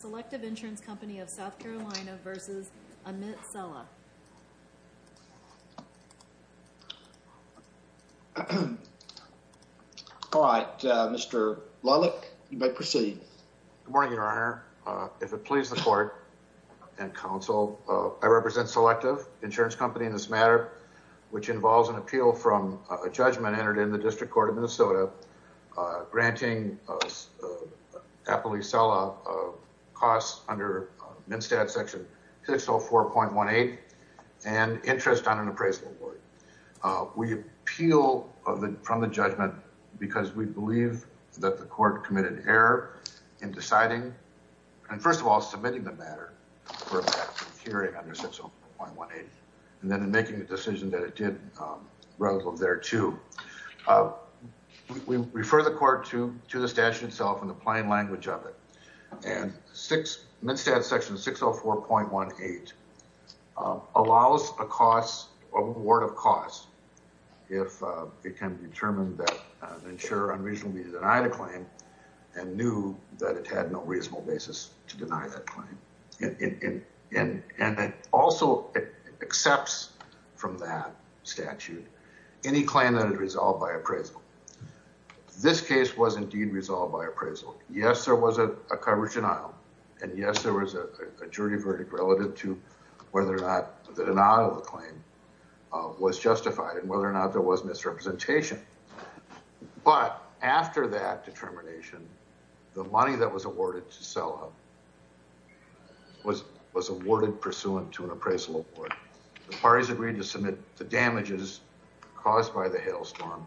Selective Insurance Co of SC v. Amit Sela All right, Mr. Lollick, you may proceed. Good morning, Your Honor. If it pleases the court and counsel, I represent Selective Insurance Co in this matter, which involves an appeal from a judgment entered in the District Court of Minnesota granting Apolli Sela costs under MnSTAD Section 604.18 and interest on an appraisal award. We appeal from the judgment because we believe that the court committed error in deciding and, first of all, submitting the matter for a hearing under 604.18, and then in making the decision that it did rather than thereto. We refer the court to the statute itself in the plain language of it. And MnSTAD Section 604.18 allows a cost, award of cost, if it can determine that an insurer unreasonably denied a claim and knew that it had no reasonable basis to deny that claim. And it also accepts from that statute any claim that is resolved by appraisal. This case was indeed resolved by appraisal. Yes, there was a coverage denial. And yes, there was a jury verdict relative to whether or not the denial of the claim was justified and whether or not there was misrepresentation. But after that determination, the money that was awarded to Sella was awarded pursuant to an appraisal award. The parties agreed to submit the damages caused by the hailstorm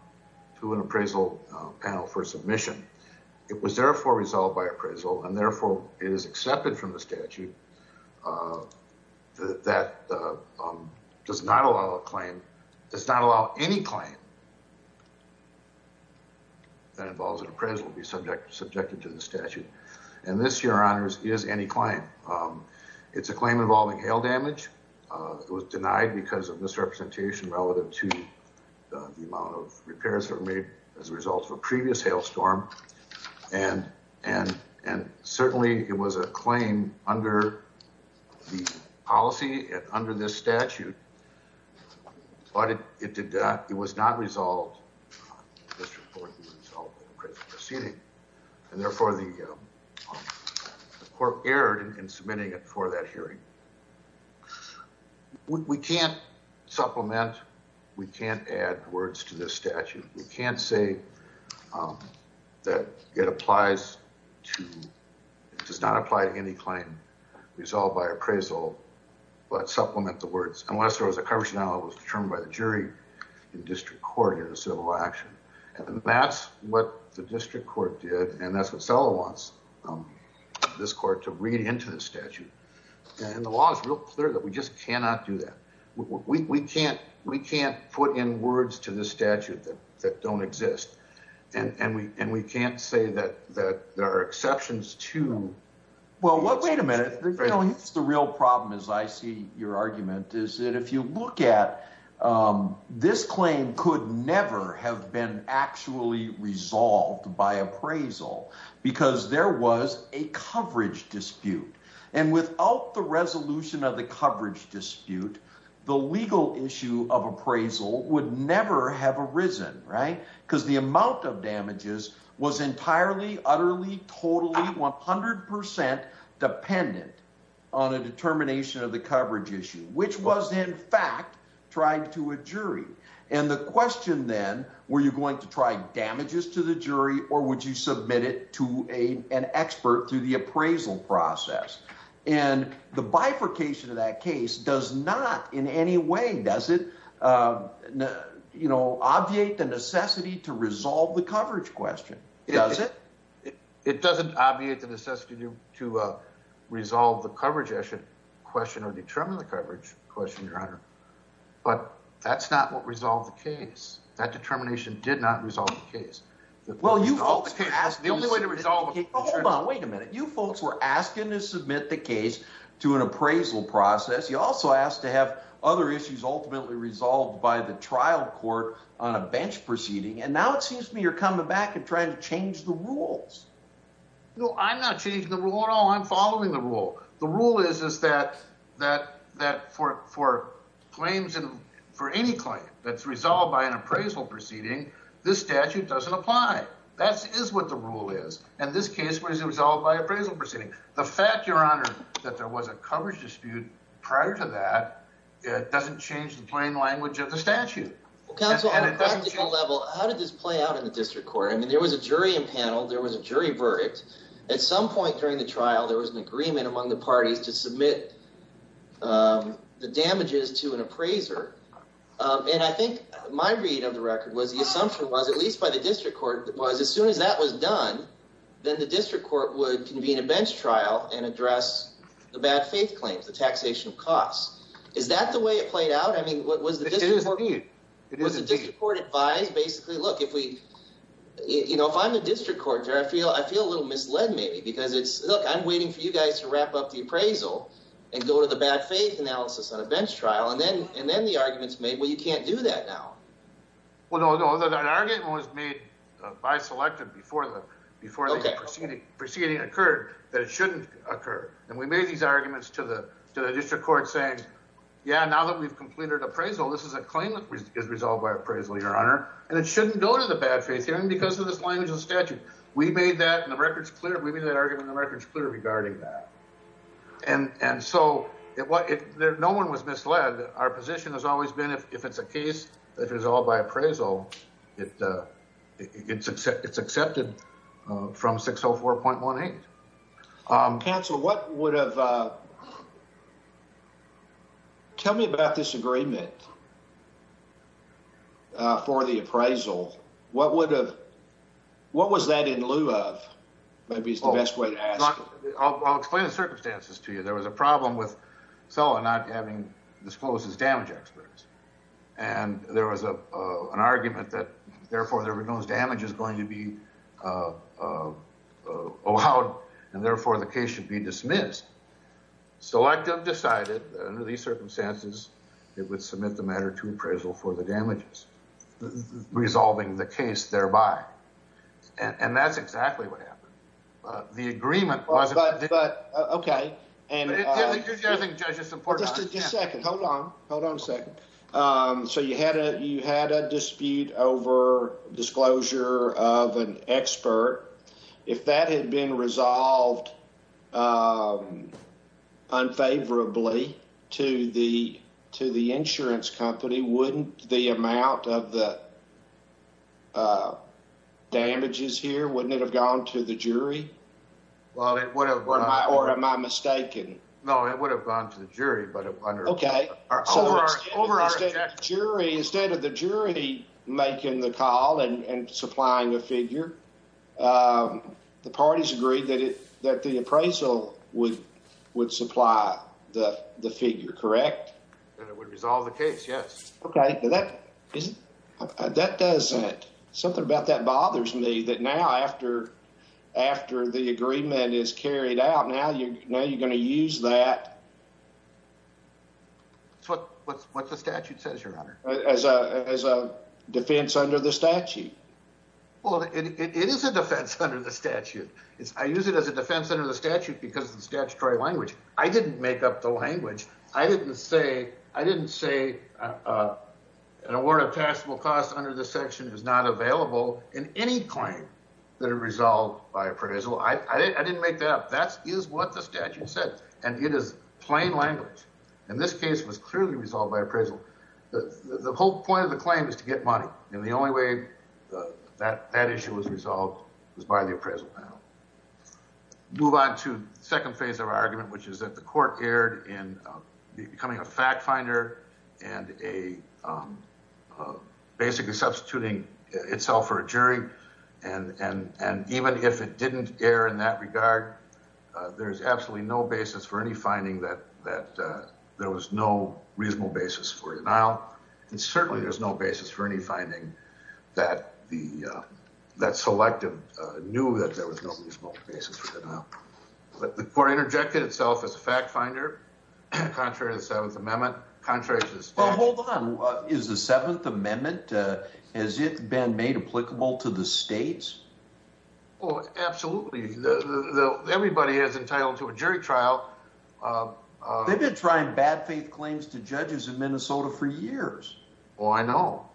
to an appraisal panel for submission. It was, therefore, resolved by appraisal. And therefore, it is accepted from the statute that that does not allow a claim, does not allow any claim that involves an appraisal that will be subjected to the statute. And this, Your Honors, is any claim. It's a claim involving hail damage. It was denied because of misrepresentation relative to the amount of repairs that were made as a result of a previous hailstorm. And certainly, it was a claim under the policy and under this statute. But it did not, it was not resolved, the district court would resolve the appraisal proceeding. And therefore, the court erred in submitting it for that hearing. We can't supplement, we can't add words to this statute. We can't say that it applies to, it does not apply to any claim resolved by appraisal, but supplement the words. Unless there was a coverage denial that was determined by the jury in district court prior to civil action. And that's what the district court did. And that's what Sella wants this court to read into the statute. And the law is real clear that we just cannot do that. We can't put in words to the statute that don't exist. And we can't say that there are exceptions to- Well, wait a minute. The real problem, as I see your argument, is that if you look at this claim could never have been actually resolved by appraisal because there was a coverage dispute. And without the resolution of the coverage dispute, the legal issue of appraisal would never have arisen, right? Because the amount of damages was entirely, utterly, totally, 100% dependent on a determination of the coverage issue, which was in fact tried to a jury. And the question then, were you going to try damages to the jury or would you submit it to an expert through the appraisal process? And the bifurcation of that case does not in any way, does it obviate the necessity to resolve the coverage question? Does it? It doesn't obviate the necessity to resolve the coverage issue, question or determine the coverage question, your honor. But that's not what resolved the case. That determination did not resolve the case. Well, you folks were asking- The only way to resolve it- Hold on, wait a minute. You folks were asking to submit the case to an appraisal process. You also asked to have other issues ultimately resolved by the trial court on a bench proceeding. And now it seems to me you're coming back and trying to change the rules. No, I'm not changing the rule at all. I'm following the rule. The rule is that for any claim that's resolved by an appraisal proceeding, this statute doesn't apply. That is what the rule is. And this case was resolved by appraisal proceeding. The fact, your honor, that there was a coverage dispute prior to that, it doesn't change the plain language of the statute. Well, counsel, on a practical level, how did this play out in the district court? I mean, there was a jury in panel, there was a jury verdict. At some point during the trial, there was an agreement among the parties to submit the damages to an appraiser. And I think my read of the record was the assumption was, at least by the district court, was as soon as that was done, then the district court would convene a bench trial and address the bad faith claims, the taxation costs. Is that the way it played out? I mean, what was the district court- It is indeed. Was the district court advised basically, look, if we, you know, if I'm the district court, I feel a little misled maybe, because it's, look, I'm waiting for you guys to wrap up the appraisal and go to the bad faith analysis on a bench trial. And then the argument's made, well, you can't do that now. Well, no, no, that argument was made by selective before the proceeding occurred, that it shouldn't occur. And we made these arguments to the district court saying, yeah, now that we've completed appraisal, this is a claim that is resolved by appraisal, your honor. And it shouldn't go to the bad faith hearing because of this language of the statute. We made that, and the record's clear, we made that argument and the record's clear regarding that. And so, no one was misled. Our position has always been, if it's a case that is all by appraisal, it's accepted from 604.18. Counsel, what would have, tell me about this agreement for the appraisal. What would have, what was that in lieu of? Maybe it's the best way to ask. I'll explain the circumstances to you. There was a problem with Sella not having disclosed his damage experts. And there was an argument that therefore there were no damages going to be allowed, and therefore the case should be dismissed. Selective decided under these circumstances, it would submit the matter to appraisal for the damages, resolving the case thereby. And that's exactly what happened. The agreement wasn't- But, okay. And- You're judging, judge, it's important. Just a second, hold on, hold on a second. So you had a dispute over disclosure of an expert. If that had been resolved unfavorably to the insurance company, the amount of the damages here, wouldn't it have gone to the jury? Well, it would have- Or am I mistaken? No, it would have gone to the jury, but under- Okay, so instead of the jury making the call and supplying a figure, the parties agreed that the appraisal would supply the figure, correct? And it would resolve the case, yes. Okay, but that doesn't, something about that bothers me, that now after the agreement is carried out, now you're going to use that- It's what the statute says, Your Honor. As a defense under the statute. Well, it is a defense under the statute. I use it as a defense under the statute because of the statutory language. I didn't make up the language. I didn't say an award of taxable costs under this section is not available in any claim that are resolved by appraisal. I didn't make that up. That is what the statute said, and it is plain language. In this case, it was clearly resolved by appraisal. The whole point of the claim is to get money, and the only way that issue was resolved was by the appraisal panel. Move on to the second phase of our argument, which is that the court erred in becoming a fact finder and basically substituting itself for a jury, and even if it didn't err in that regard, there's absolutely no basis for any finding that there was no reasonable basis for denial, and certainly there's no basis for any finding that that selective knew that there was no reasonable basis for denial. The court interjected itself as a fact finder contrary to the Seventh Amendment, contrary to the state. Well, hold on. Is the Seventh Amendment, has it been made applicable to the states? Oh, absolutely. Everybody is entitled to a jury trial. They've been trying bad faith claims to judges in Minnesota for years. Oh, I know,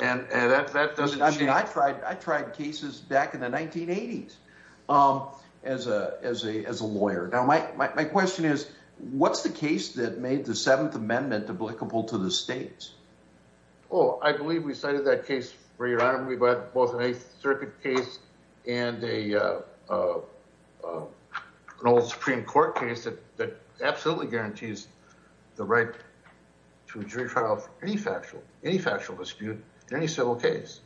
and that doesn't change. I tried cases back in the 1980s. As a lawyer. Now, my question is, what's the case that made the Seventh Amendment applicable to the states? Oh, I believe we cited that case for your honor. We've had both an Eighth Circuit case and an old Supreme Court case that absolutely guarantees the right to a jury trial for any factual dispute in any civil case,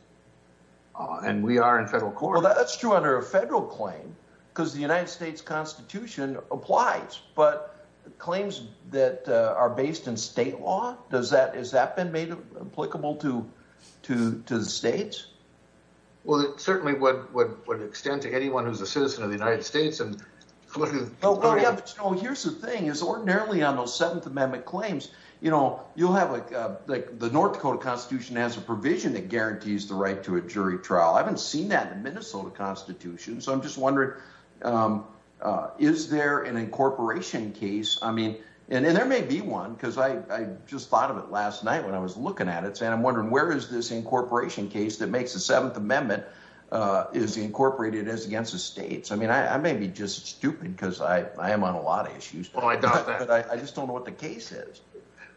and we are in federal court. Well, that's true under a federal claim because the United States Constitution applies, but claims that are based in state law, does that, has that been made applicable to the states? Well, it certainly would extend to anyone who's a citizen of the United States and- Oh, here's the thing, is ordinarily on those Seventh Amendment claims, you know, you'll have like, the North Dakota Constitution has a provision that guarantees the right to a jury trial. I haven't seen that in the Minnesota Constitution. So I'm just wondering, is there an incorporation case? I mean, and there may be one, because I just thought of it last night when I was looking at it, so I'm wondering where is this incorporation case that makes the Seventh Amendment is incorporated as against the states? I mean, I may be just stupid because I am on a lot of issues. Oh, I doubt that. But I just don't know what the case is.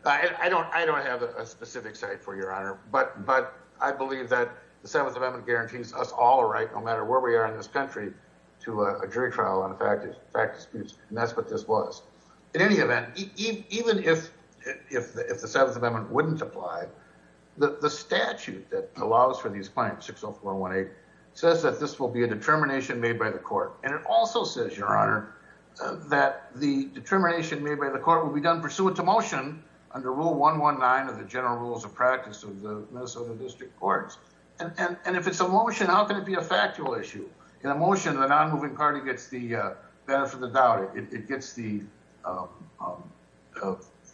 I don't have a specific site for your honor, but I believe that the Seventh Amendment guarantees us all a right, no matter where we are in this country, to a jury trial on a fact of disputes. And that's what this was. In any event, even if the Seventh Amendment wouldn't apply, the statute that allows for these claims, 60418, says that this will be a determination made by the court. And it also says, your honor, that the determination made by the court will be done pursuant to motion under rule 119 of the general rules of practice of the Minnesota District Courts. And if it's a motion, how can it be a factual issue? In a motion, the non-moving party gets the benefit of the doubt. It gets the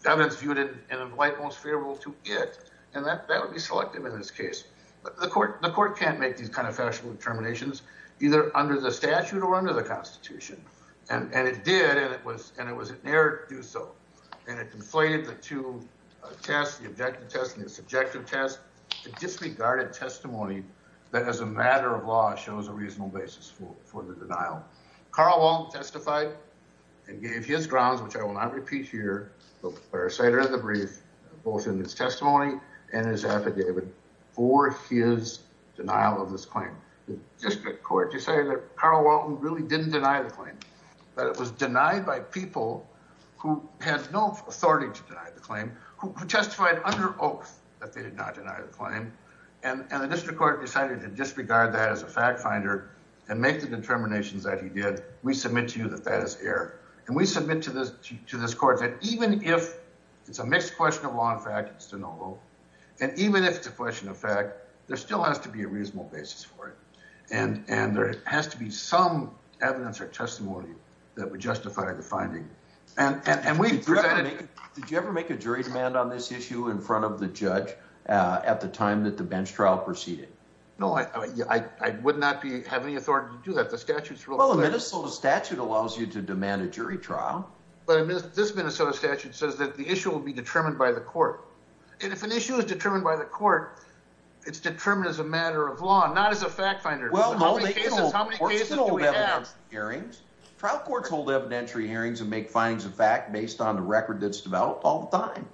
evidence viewed in the light most favorable to it. And that would be selective in this case. The court can't make these kind of factual determinations either under the statute or under the Constitution. And it did, and it was inerrant to do so. And it conflated the two tests, the objective test and the subjective test. It disregarded testimony that as a matter of law shows a reasonable basis for the denial. Carl Walton testified and gave his grounds, which I will not repeat here, but I'll say it in the brief, both in his testimony and his affidavit for his denial of this claim. The district court decided that Carl Walton really didn't deny the claim, but it was denied by people who had no authority to deny the claim, who testified under oath that they did not deny the claim. And the district court decided to disregard that as a fact finder and make the determinations that he did. We submit to you that that is error. And we submit to this court that even if it's a mixed question of law and fact, it's de novo. And even if it's a question of fact, there still has to be a reasonable basis for it. And there has to be some evidence or testimony that would justify the finding. And we've presented- Did you ever make a jury demand on this issue in front of the judge at the time that the bench trial proceeded? No, I would not have any authority to do that. The statute's real clear. Well, the Minnesota statute allows you to demand a jury trial. But this Minnesota statute says that the issue will be determined by the court. And if an issue is determined by the court, it's determined as a matter of law, not as a fact finder. Well, no, they can hold evidentiary hearings. Trial courts hold evidentiary hearings and make findings of fact based on the record that's developed all the time.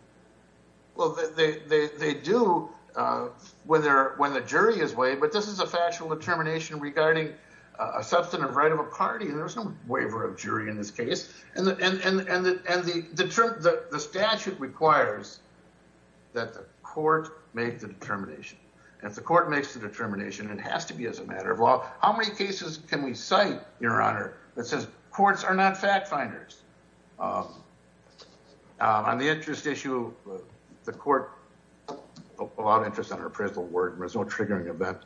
Well, they do when the jury is waived, but this is a factual determination regarding a substantive right of a party. And there's no waiver of jury in this case. And the statute requires that the court make the determination. And if the court makes the determination, it has to be as a matter of law. How many cases can we cite, Your Honor, that says courts are not fact finders? On the interest issue, the court allowed interest on an appraisal award, and there's no triggering event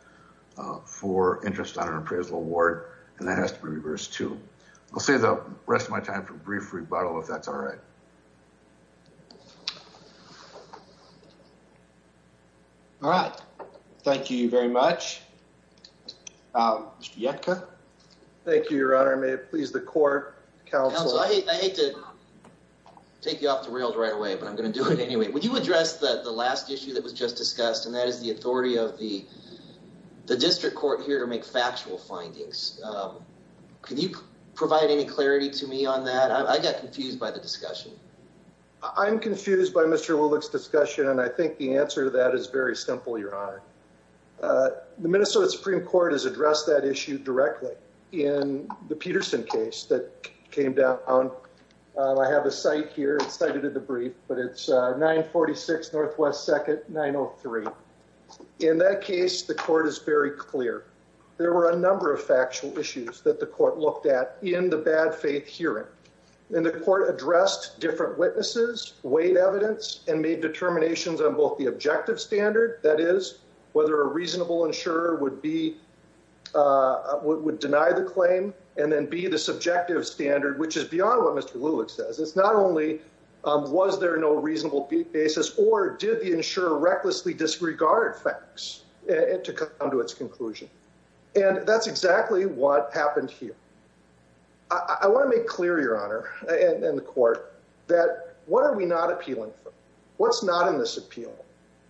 for interest on an appraisal award. And that has to be reversed too. I'll save the rest of my time for a brief rebuttal if that's all right. All right, thank you very much. Mr. Yetka. Thank you, Your Honor. May it please the court, counsel. Counsel, I hate to take you off the rails right away, but I'm going to do it anyway. Would you address the last issue that was just discussed, and that is the authority of the district court here to make factual findings. Can you provide any clarity to me on that? I got confused by the discussion. I'm confused by Mr. Woolick's discussion, and I think the answer to that is very simple, Your Honor. The Minnesota Supreme Court has addressed that issue directly in the Peterson case that came down. I have a cite here. It's cited in the brief, but it's 946 Northwest 2nd, 903. In that case, the court is very clear. There were a number of factual issues that the court looked at in the bad faith hearing, and the court addressed different witnesses, weighed evidence, and made determinations on both the objective standard, that is, whether a reasonable insurer would deny the claim, and then B, the subjective standard, which is beyond what Mr. Woolick says. It's not only was there no reasonable basis or did the insurer recklessly disregard facts to come to its conclusion, and that's exactly what happened here. I want to make clear, Your Honor, and the court, that what are we not appealing for? What's not in this appeal?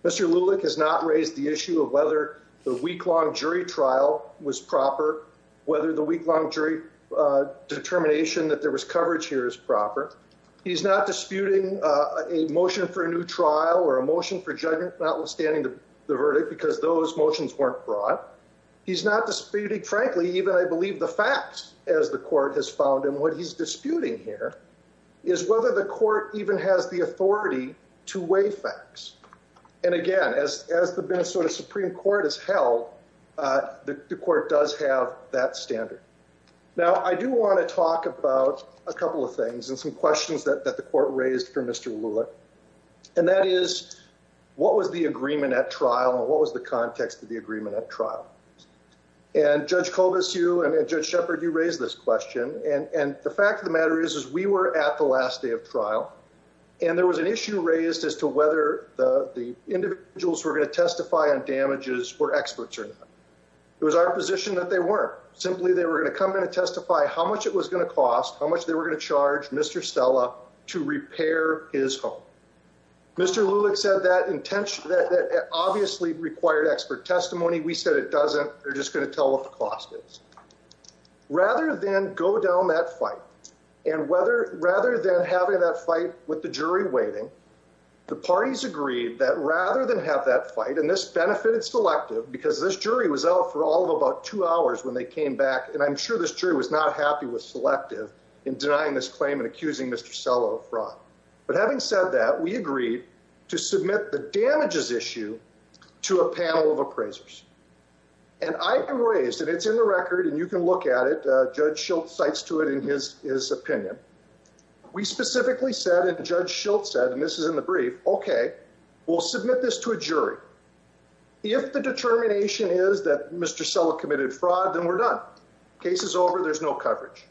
Mr. Woolick has not raised the issue of whether the week-long jury trial was proper, whether the week-long jury determination that there was coverage here is proper. He's not disputing a motion for a new trial or a motion for judgment notwithstanding the verdict because those motions weren't brought. He's not disputing, frankly, even, I believe, the facts, as the court has found, and what he's disputing here is whether the court even has the authority to weigh facts. And again, as the Minnesota Supreme Court has held, the court does have that standard. Now, I do want to talk about a couple of things and some questions that the court raised for Mr. Woolick, and that is, what was the agreement at trial and what was the context of the agreement at trial? And Judge Colbus, you, and Judge Shepard, you raised this question, and the fact of the matter is is we were at the last day of trial, and there was an issue raised as to whether the individuals were going to testify on damages were experts or not. It was our position that they weren't. Simply, they were going to come in and testify how much it was going to cost, how much they were going to charge Mr. Stella to repair his home. Mr. Woolick said that obviously required expert testimony. We said it doesn't. They're just going to tell what the cost is. Rather than go down that fight, and rather than having that fight with the jury waiting, the parties agreed that rather than have that fight, and this benefited Selective because this jury was out for all of about two hours when they came back, and I'm sure this jury was not happy with Selective in denying this claim and accusing Mr. Stella of fraud. But having said that, we agreed to submit the damages issue to a panel of appraisers. And I raised, and it's in the record, and you can look at it. Judge Schultz cites to it in his opinion. We specifically said, and Judge Schultz said, and this is in the brief, okay, we'll submit this to a jury. If the determination is that Mr. Stella committed fraud, then we're done. Case is over. There's no coverage.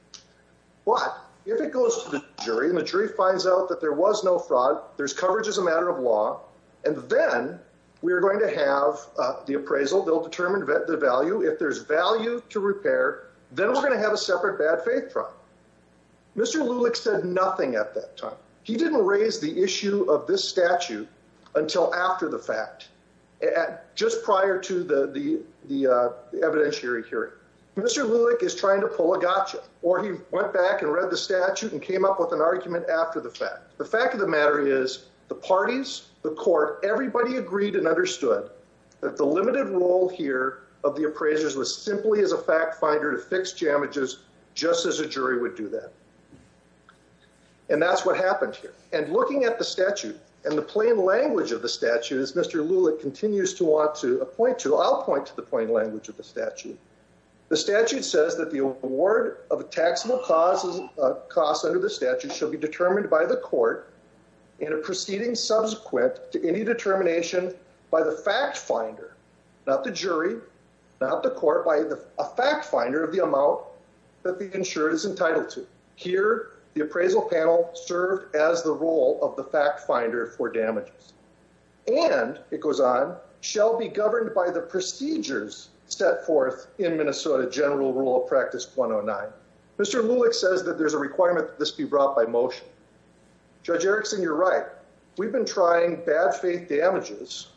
But if it goes to the jury, and the jury finds out that there was no fraud, there's coverage as a matter of law, and then we're going to have the appraisal. They'll determine the value. If there's value to repair, then we're going to have a separate bad faith trial. Mr. Lulick said nothing at that time. He didn't raise the issue of this statute until after the fact, just prior to the evidentiary hearing. Mr. Lulick is trying to pull a gotcha, or he went back and read the statute and came up with an argument after the fact. The fact of the matter is the parties, the court, everybody agreed and understood that the limited role here of the appraisers was simply as a fact finder to fix damages, just as a jury would do that. And that's what happened here. And looking at the statute and the plain language of the statute, as Mr. Lulick continues to want to appoint to, I'll point to the plain language of the statute. The statute says that the award of a taxable cost under the statute shall be determined by the court in a proceeding subsequent to any determination by the fact finder, not the jury, not the court by a fact finder of the amount that the insured is entitled to. Here the appraisal panel served as the role of the fact finder for the procedures set forth in Minnesota general rule of practice 109. Mr. Lulick says that there's a requirement that this be brought by motion. Judge Erickson, you're right. We've been trying bad faith damages,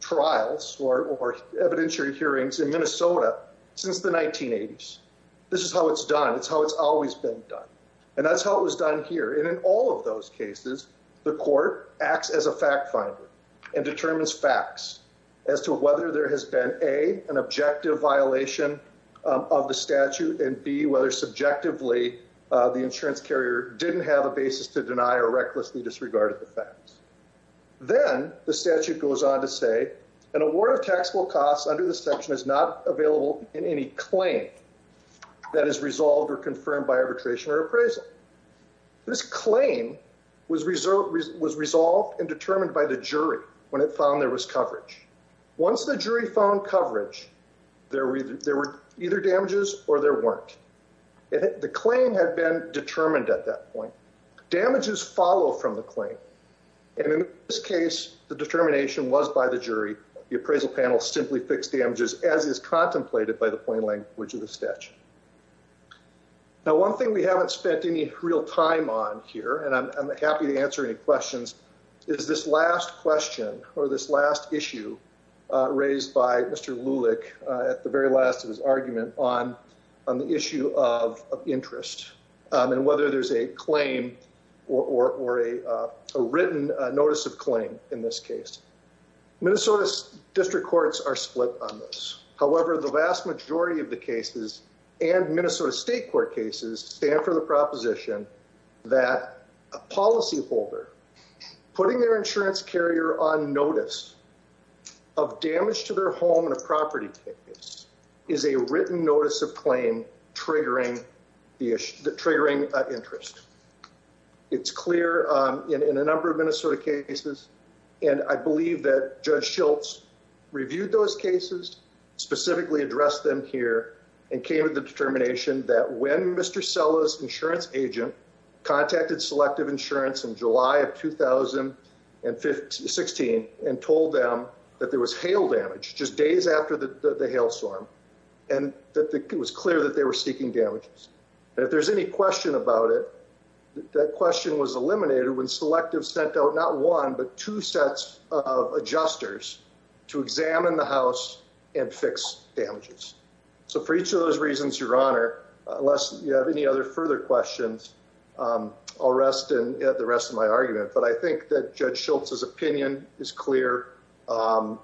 trials or evidentiary hearings in Minnesota since the 1980s. This is how it's done. It's how it's always been done. And that's how it was done here. And in all of those cases, the court acts as a fact finder and determines facts as to whether there has been a, an objective violation of the statute and B, whether subjectively the insurance carrier didn't have a basis to deny or recklessly disregarded the facts. Then the statute goes on to say an award of taxable costs under the section is not available in any claim that is resolved or confirmed by arbitration or appraisal. This claim was resolved and determined by the jury when it found there was coverage. Once the jury found coverage, there were either, there were either damages or there weren't. The claim had been determined at that point. Damages follow from the claim. And in this case, the determination was by the jury. The appraisal panel simply fixed damages as is contemplated by the plain language of the statute. Now, one thing we haven't spent any real time on here and I'm happy to answer any questions. Is this last question or this last issue raised by Mr. Lulick at the very last of his argument on, on the issue of interest and whether there's a claim or, or a written notice of claim in this case, Minnesota district courts are split on this. However, the vast majority of the cases and Minnesota state court cases stand for the Minnesota folder, putting their insurance carrier on notice of damage to their home and a property case is a written notice of claim triggering the issue, the triggering interest. It's clear in a number of Minnesota cases. And I believe that judge Schultz reviewed those cases specifically addressed them here and came to the determination that when Mr. Sellers insurance agent contacted selective insurance in July of 2015, 16, and told them that there was hail damage just days after the hail storm. And that it was clear that they were seeking damages. And if there's any question about it, that question was eliminated when selective sent out not one, but two sets of adjusters to examine the house and fix damages. So for each of those reasons, your honor, unless you have any other further questions, I'll rest in the rest of my argument, but I think that judge Schultz's opinion is clear.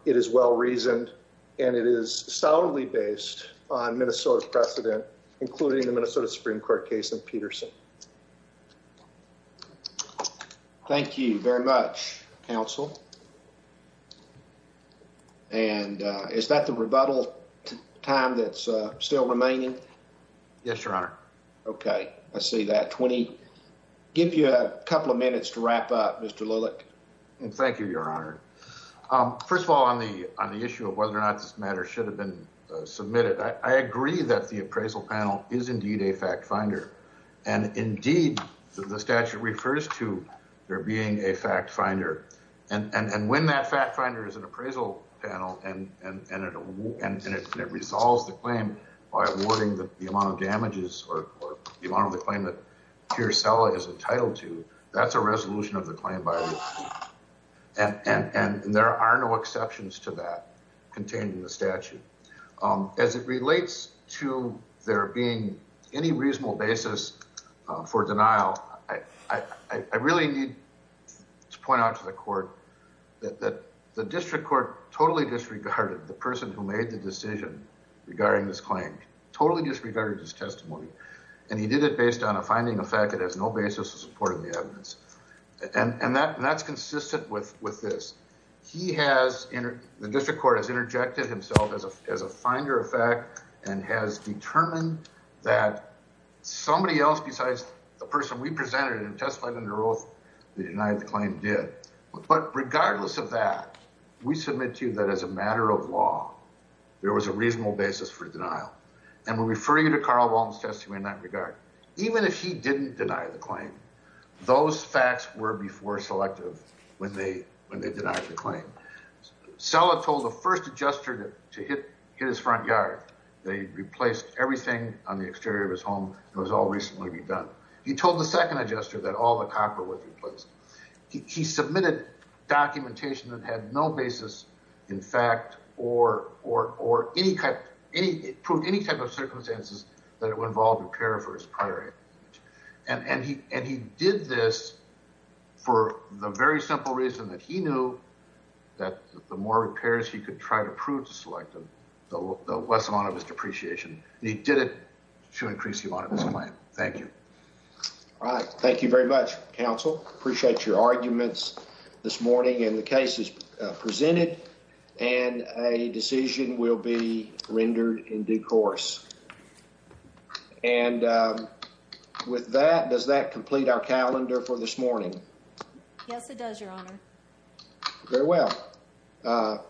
It is well-reasoned and it is soundly based on Minnesota precedent, including the Minnesota Supreme court case in Peterson. Thank you very much counsel. And is that the rebuttal time that's still remaining? Yes, your honor. Okay. I see that 20 give you a couple of minutes to wrap up Mr. Lillick. And thank you, your honor. First of all, on the, on the issue of whether or not this matter should have been submitted. I agree that the appraisal panel is indeed a fact finder. And indeed the statute refers to there being a fact finder. And, and when that fact finder is an appraisal panel and, and it, and it resolves the claim by awarding the amount of damages or the amount of the claim that Piercella is entitled to, that's a resolution of the claim by. And, and there are no exceptions to that contained in the statute as it relates to there being any reasonable basis for denial. I, I really need to point out to the court that the district court totally disregarded the person who made the decision regarding this claim, totally disregarded his testimony. And he did it based on a finding effect. It has no basis to support the evidence. And that, and that's consistent with, with this. He has in the district court has interjected himself as a, as a finder of fact, and has determined that somebody else besides the person we presented and testified under oath, they denied the claim did, but regardless of that, we submit to you that as a matter of law, there was a reasonable basis for denial. And we refer you to Carl Walms testimony in that regard, even if he didn't deny the claim, those facts were before selective when they, when they denied the claim. So I've told the first adjuster to, to hit his front yard. They replaced everything on the exterior of his home. It was all recently redone. He told the second adjuster that all the copper was replaced. He submitted documentation that had no basis in fact, or, or, or any cut, any, prove any type of circumstances that it would involve repair for his prior. And, and he, and he did this for the very simple reason that he knew. That the more repairs he could try to prove to select them. The less amount of his depreciation. He did it to increase the amount of his client. Thank you. All right. Thank you very much. Counsel. Appreciate your arguments this morning and the cases presented. And a decision will be rendered in due course. And with that, does that complete our calendar for this morning? Yes, it does. Your honor. Very well.